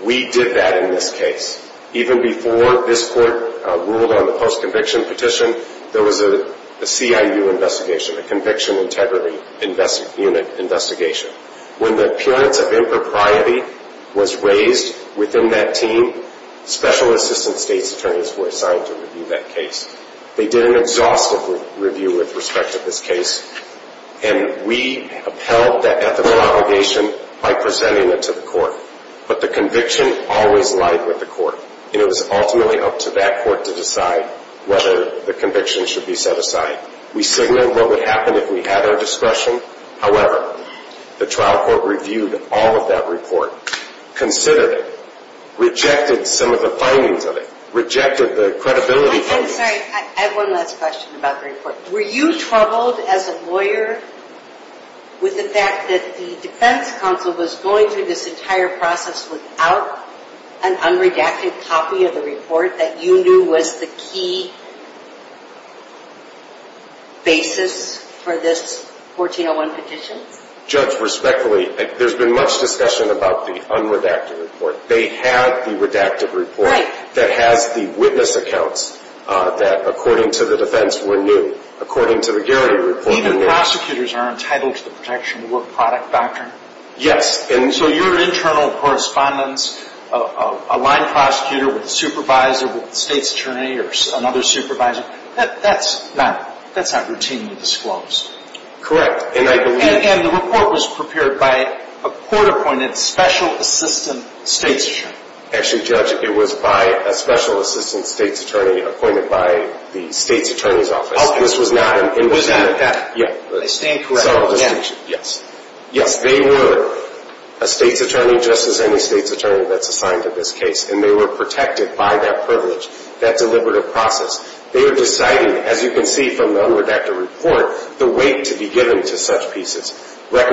We did that in this case. Even before this court ruled on the post-conviction petition, there was a CIU investigation, a conviction integrity unit investigation. When the appearance of impropriety was raised within that team, special assistant state's attorneys were assigned to review that case. They did an exhaustive review with respect to this case, and we upheld that ethical obligation by presenting it to the court. But the conviction always lied with the court, and it was ultimately up to that court to decide whether the conviction should be set aside. We signaled what would happen if we had our discretion. However, the trial court reviewed all of that report, considered it, rejected some of the findings of it, rejected the credibility findings. I have one last question about the report. Were you troubled as a lawyer with the fact that the defense counsel was going through this entire process without an unredacted copy of the report that you knew was the key basis for this 1401 petition? Judge, respectfully, there's been much discussion about the unredacted report. They had the redacted report that has the witness accounts that, according to the defense, were new. According to the Garrity report... Even prosecutors are entitled to the protection of work product doctrine? Yes. So your internal correspondence of a line prosecutor with a supervisor with the state's attorney or another supervisor, that's not routinely disclosed. Correct. And the report was prepared by a court-appointed special assistant state's attorney. Actually, Judge, it was by a special assistant state's attorney appointed by the state's attorney's office. This was not an independent... I stand corrected. Yes, they were a state's attorney just as any state's attorney that's assigned to this case, and they were protected by that privilege, that deliberative process. They were deciding, as you can see from the unredacted report, the weight to be given to such pieces. Was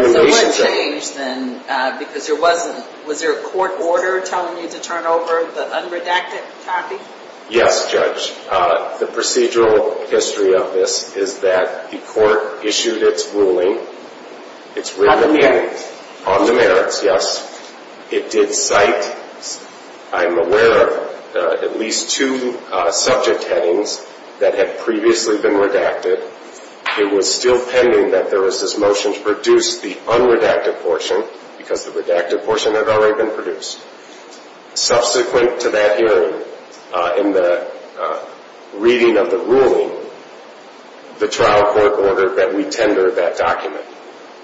there a court order telling you to turn over the unredacted copy? Yes, Judge. The procedural history of this is that the court issued its ruling on the merits, yes. It did cite, I'm aware of, at least two subject headings that had previously been redacted. It was still pending that there was this motion to produce the unredacted portion, because the redacted portion had already been produced. Subsequent to that hearing, in the reading of the ruling, the trial court ordered that we tender that document.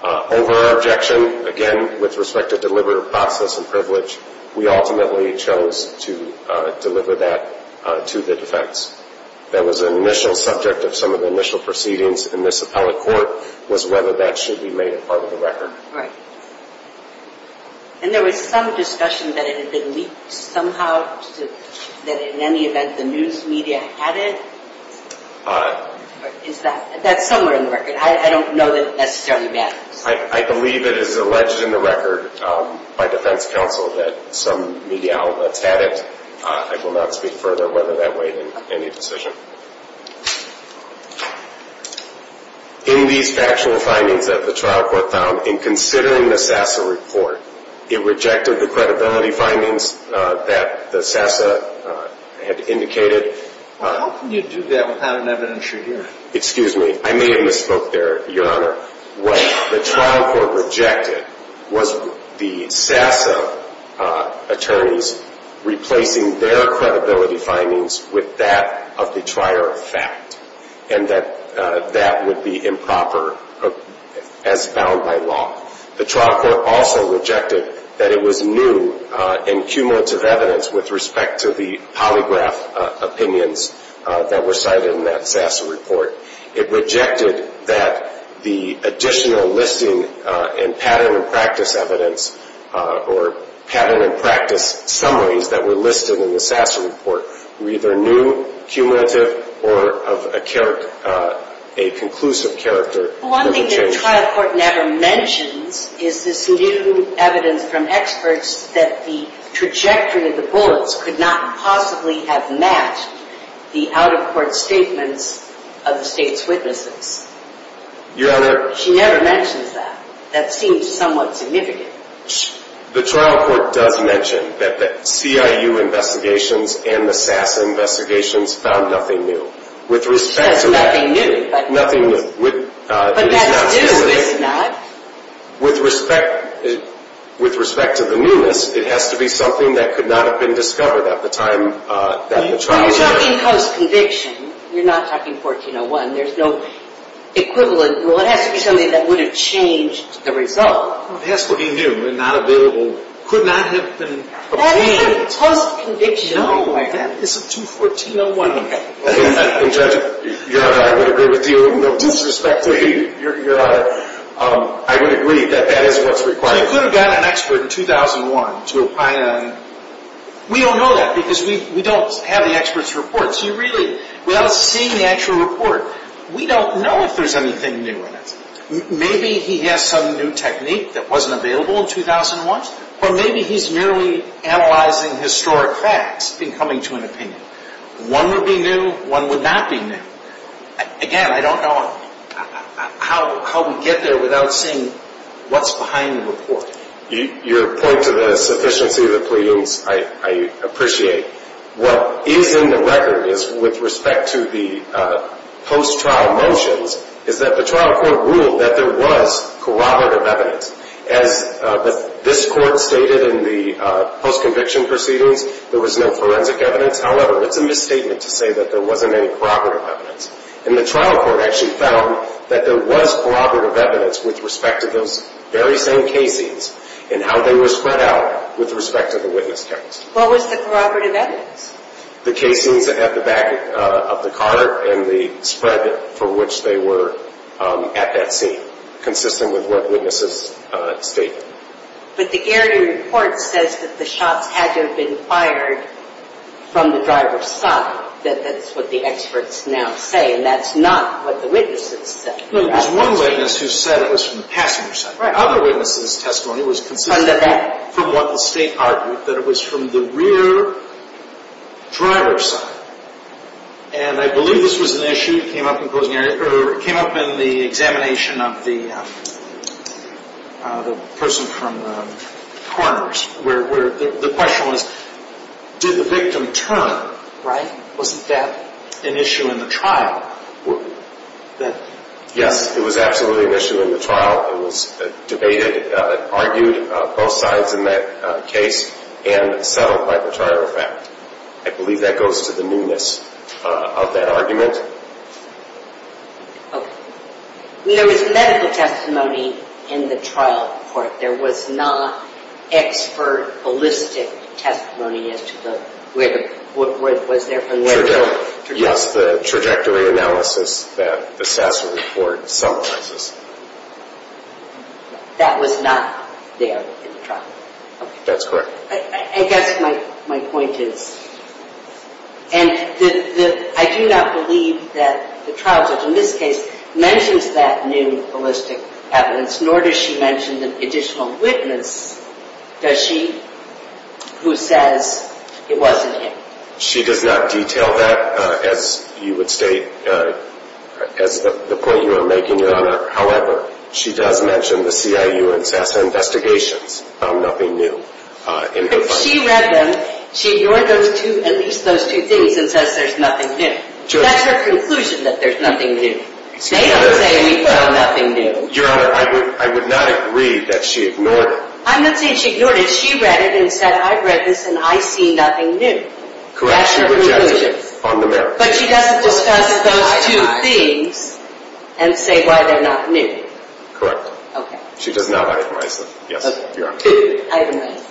Over our objection, again, with respect to deliberative process and privilege, we ultimately chose to deliver that to the defense. That was an initial subject of some of the initial proceedings in this appellate court, was whether that should be made a part of the record. And there was some discussion that it had been leaked somehow, that in any event the news media had it? That's somewhere in the record. I don't know that it necessarily matters. I believe it is alleged in the record by defense counsel that some media outlets had it. I will not speak further whether that weighed in any decision. In these factual findings that the trial court found, in considering the SASA report, it rejected the credibility findings that the SASA had indicated. Well, how can you do that without an evidentiary hearing? Excuse me. I may have misspoke there, Your Honor. What the trial court rejected was the SASA attorneys replacing their credibility findings with that of the prior fact, and that that would be improper as found by law. The trial court also rejected that it was new in cumulative evidence with respect to the polygraph opinions that were cited in that SASA report. It rejected that the additional listing and pattern and practice evidence, or pattern and practice summaries that were listed in the SASA report were either new, cumulative, or of a conclusive character. One thing that the trial court never mentions is this new evidence from experts that the trajectory of the bullets could not possibly have matched the out-of-court statements of the State's witnesses. Your Honor... She never mentions that. That seems somewhat significant. The trial court does mention that the CIU investigations and the SASA investigations found nothing new. With respect to that... Nothing new, but... But that's new, is it not? With respect to the newness, it has to be something that could not have been discovered at the time that the trial... You're talking post-conviction. You're not talking 1401. There's no equivalent. Well, it has to be something that would have changed the result. It has to be new and not available. It could not have been obtained... That isn't post-conviction. No, it isn't. It's a 214-01. And, Judge, Your Honor, I would agree with you. No disrespect to you, Your Honor. I would agree that that is what's required. So you could have got an expert in 2001 to apply that... We don't know that because we don't have the expert's reports. You really... Without seeing the actual report, we don't know if there's anything new in it. Maybe he has some new technique that wasn't available in 2001, or maybe he's merely analyzing historic facts and coming to an opinion. One would be new. One would not be new. Again, I don't know how we get there without seeing what's behind the report. Your point to the sufficiency of the pleadings, I appreciate. What is in the record is, with respect to the post-trial mentions, is that the trial court ruled that there was corroborative evidence. As this court stated in the post-conviction proceedings, there was no forensic evidence. However, it's a misstatement to say that there wasn't any corroborative evidence. And the trial court actually found that there was corroborative evidence with respect to those very same casings and how they were spread out with respect to the witness test. What was the corroborative evidence? The casings at the back of the car and the spread for which they were at that scene, consistent with what witnesses stated. But the Gary report says that the shots had to have been fired from the driver's side. That's what the experts now say, and that's not what the witnesses said. There was one witness who said it was from the passenger's side. The other witness's testimony was consistent from what the state argued, that it was from the rear driver's side. And I believe this was an issue that came up in the examination of the person from corners, where the question was, did the witness say, wasn't that an issue in the trial? Yes, it was absolutely an issue in the trial. It was debated and argued, both sides in that case, and settled by the trial effect. I believe that goes to the newness of that argument. There was medical testimony in the trial court. There was not expert ballistic testimony as to what was there from where to where. Yes, the trajectory analysis that the Sasser report summarizes. That was not there in the trial. That's correct. I guess my point is and I do not believe that the trial judge in this case mentions that new ballistic evidence, nor does she mention the additional witness, does she who says it wasn't him? She does not detail that, as you would state, as the point you are making, Your Honor. However, she does mention the CIU and Sasser investigations found nothing new. She ignored at least those two things and says there's nothing new. That's her conclusion, that there's nothing new. They don't say we found nothing new. Your Honor, I would not agree that she ignored it. I'm not saying she ignored it. She read it and said I read this and I see nothing new. That's her conclusion. But she doesn't discuss those two things and say why they're not new. Correct. She does not itemize them. Itemize.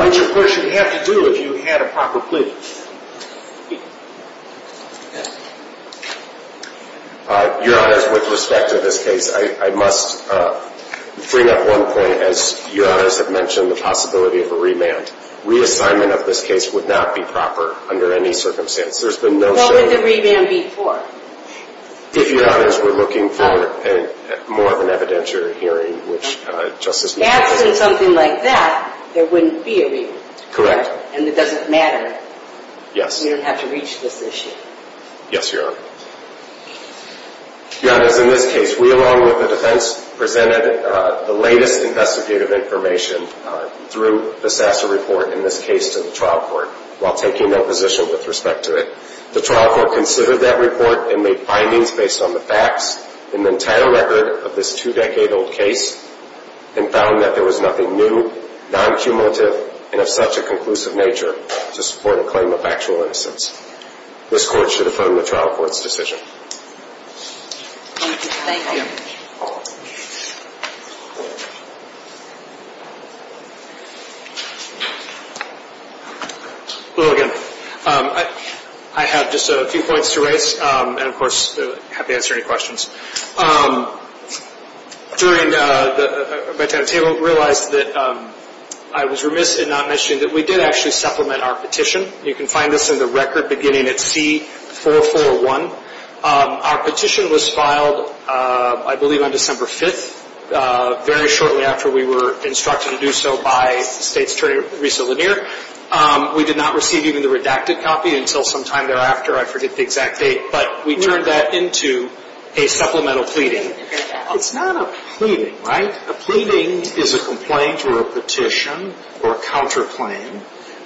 What's your question have to do if you had a proper plea? Your Honor, as far as with respect to this case, I must bring up one point as Your Honor has mentioned, the possibility of a remand. Reassignment of this case would not be proper under any circumstance. What would the remand be for? If Your Honor is looking for more of an evidentiary hearing. Something like that, there wouldn't be a remand. Correct. And it doesn't matter. Yes. You don't have to reach this issue. Yes, Your Honor. Your Honor, as in this case, we along with the defense presented the latest investigative information through the Sasser report in this case to the trial court while taking that position with respect to it. The trial court considered that report and made findings based on the facts and the entire record of this two decade old case and found that there was nothing new, non-cumulative and of such a conclusive nature to support a claim of factual innocence. This Court should affirm the trial court's decision. Thank you. Hello again. I have just a few points to raise and of course I'm happy to answer any questions. During the debate at the table, I realized that I was remiss in not mentioning that we did actually supplement our petition. You can find this in the record beginning at C441. Our petition was filed, I believe, on December 5th, very shortly after we were instructed to do so by State's attorney, Risa Lanier. We did not receive even the redacted copy until sometime thereafter. I forget the exact date, but we turned that into a supplemental pleading. It's not a pleading, right? A pleading is a complaint or a petition or a counterclaim.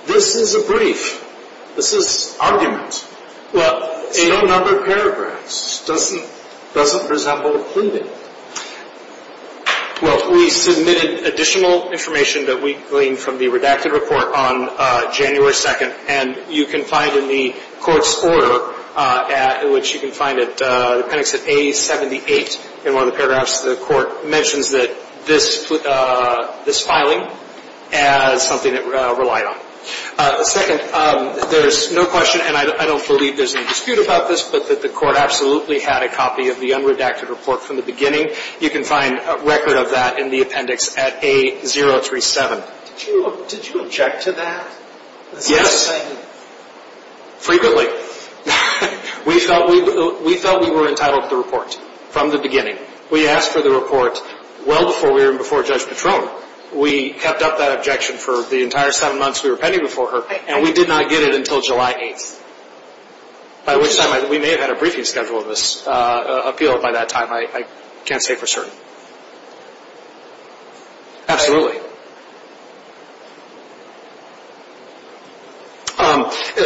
This is a brief. This is argument. It's no number of paragraphs. It doesn't resemble a pleading. Well, we submitted additional information that we gleaned from the redacted report on January 2nd and you can find in the Court's order which you can find at the appendix at A78 in one of the paragraphs, the Court mentions that this filing as something it relied on. Second, there's no question, and I don't believe there's any dispute about this, but that the Court absolutely had a copy of the unredacted report from the beginning. You can find a record of that in the appendix at A037. Did you object to that? Yes. Frequently. We felt we were entitled to the report from the beginning. We asked for the report well before we were in before Judge Patron. We kept up that objection for the entire seven months we were pending before her and we did not get it until July 8th. By which time, we may have had a briefing schedule of this appealed by that time. I can't say for certain. Absolutely.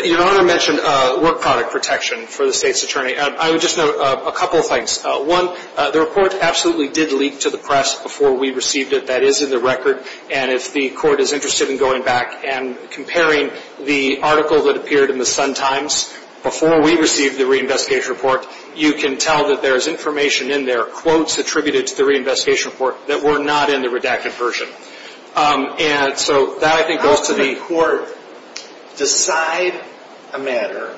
Your Honor mentioned work product protection for the State's Attorney. I would just note a couple of things. One, the report absolutely did leak to the press before we received it. That is in the record. If the Court is interested in going back and comparing the article that appeared in the Sun-Times before we received the reinvestigation report, you can tell that there is information in there, quotes attributed to the reinvestigation report, that were not in the redacted version. How can the Court decide a matter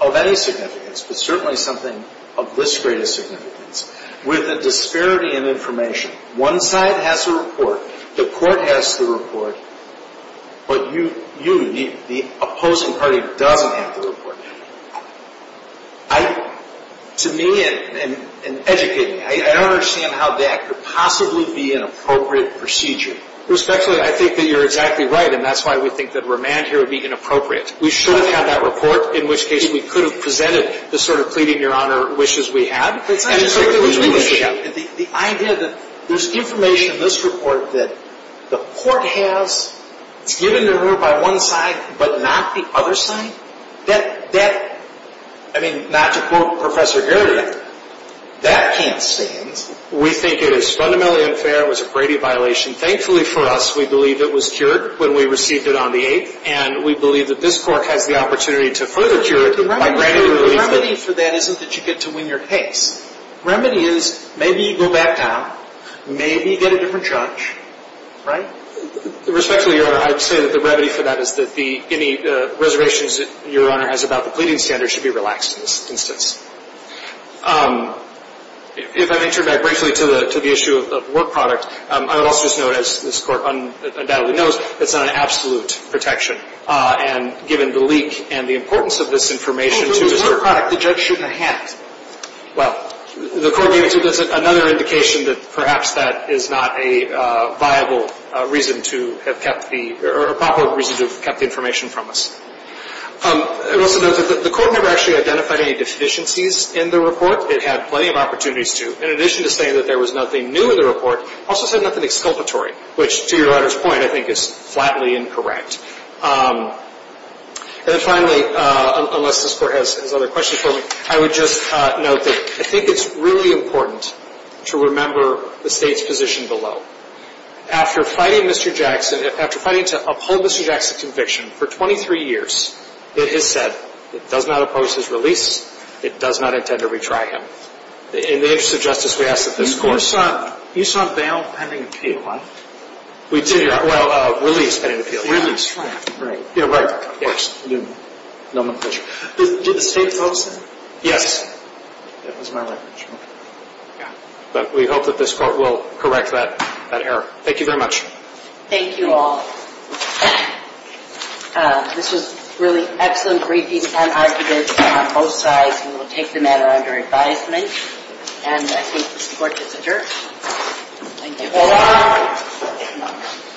of any significance, but certainly something of this greatest significance, with a disparity in information? One side has the report. The Court has the report. But you, the opposing party, doesn't have the report. To me, and educate me, I don't understand how that could possibly be an appropriate procedure. Respectfully, I think that you're exactly right and that's why we think that remand here would be inappropriate. We should have had that report, in which case we could have presented the sort of pleading-your-honor wishes we had. The idea that there's information in this report that the Court has, it's given to her by one side, but not the other side? That, I mean, not to quote Professor Gary, that can't stand. We think it is fundamentally unfair. It was a Brady violation. Thankfully for us, we believe it was cured when we received it on the 8th, and we believe that this Court has the opportunity to further cure it by granting relief. The remedy for that isn't that you get to win your case. The remedy is, maybe you go back down, maybe you get a different judge, right? Respectfully, Your Honor, I would say that the remedy for that is that any reservations that Your Honor has about the pleading standards should be relaxed in this instance. If I may turn back briefly to the issue of work product, I would also just note as this Court undoubtedly knows, it's not an absolute protection. And given the leak and the importance of this information to the work product, the judge shouldn't have had it. Well, the Court gave it to us as another indication that perhaps that is not a viable reason to have kept the, or a proper reason to have kept the information from us. It also notes that the Court never actually identified any deficiencies in the report. It had plenty of opportunities to, in addition to saying that there was nothing new in the report, also said nothing exculpatory, which, to Your Honor's point, I think is flatly incorrect. And then finally, unless this Court has other questions for me, I would just note that I think it's really important to remember the State's position below. After fighting Mr. Jackson, after fighting to uphold Mr. Jackson's conviction for 23 years, it is said it does not oppose his release, it does not intend to retry him. In the interest of justice, we ask that this Court... You saw bail pending in K-1? We did, well, release. Did the State vote, sir? Yes. But we hope that this Court will correct that error. Thank you very much. Thank you all. This was really excellent briefing and argument on both sides. We will take the matter under advisement, and I think this Court is adjourned. Thank you.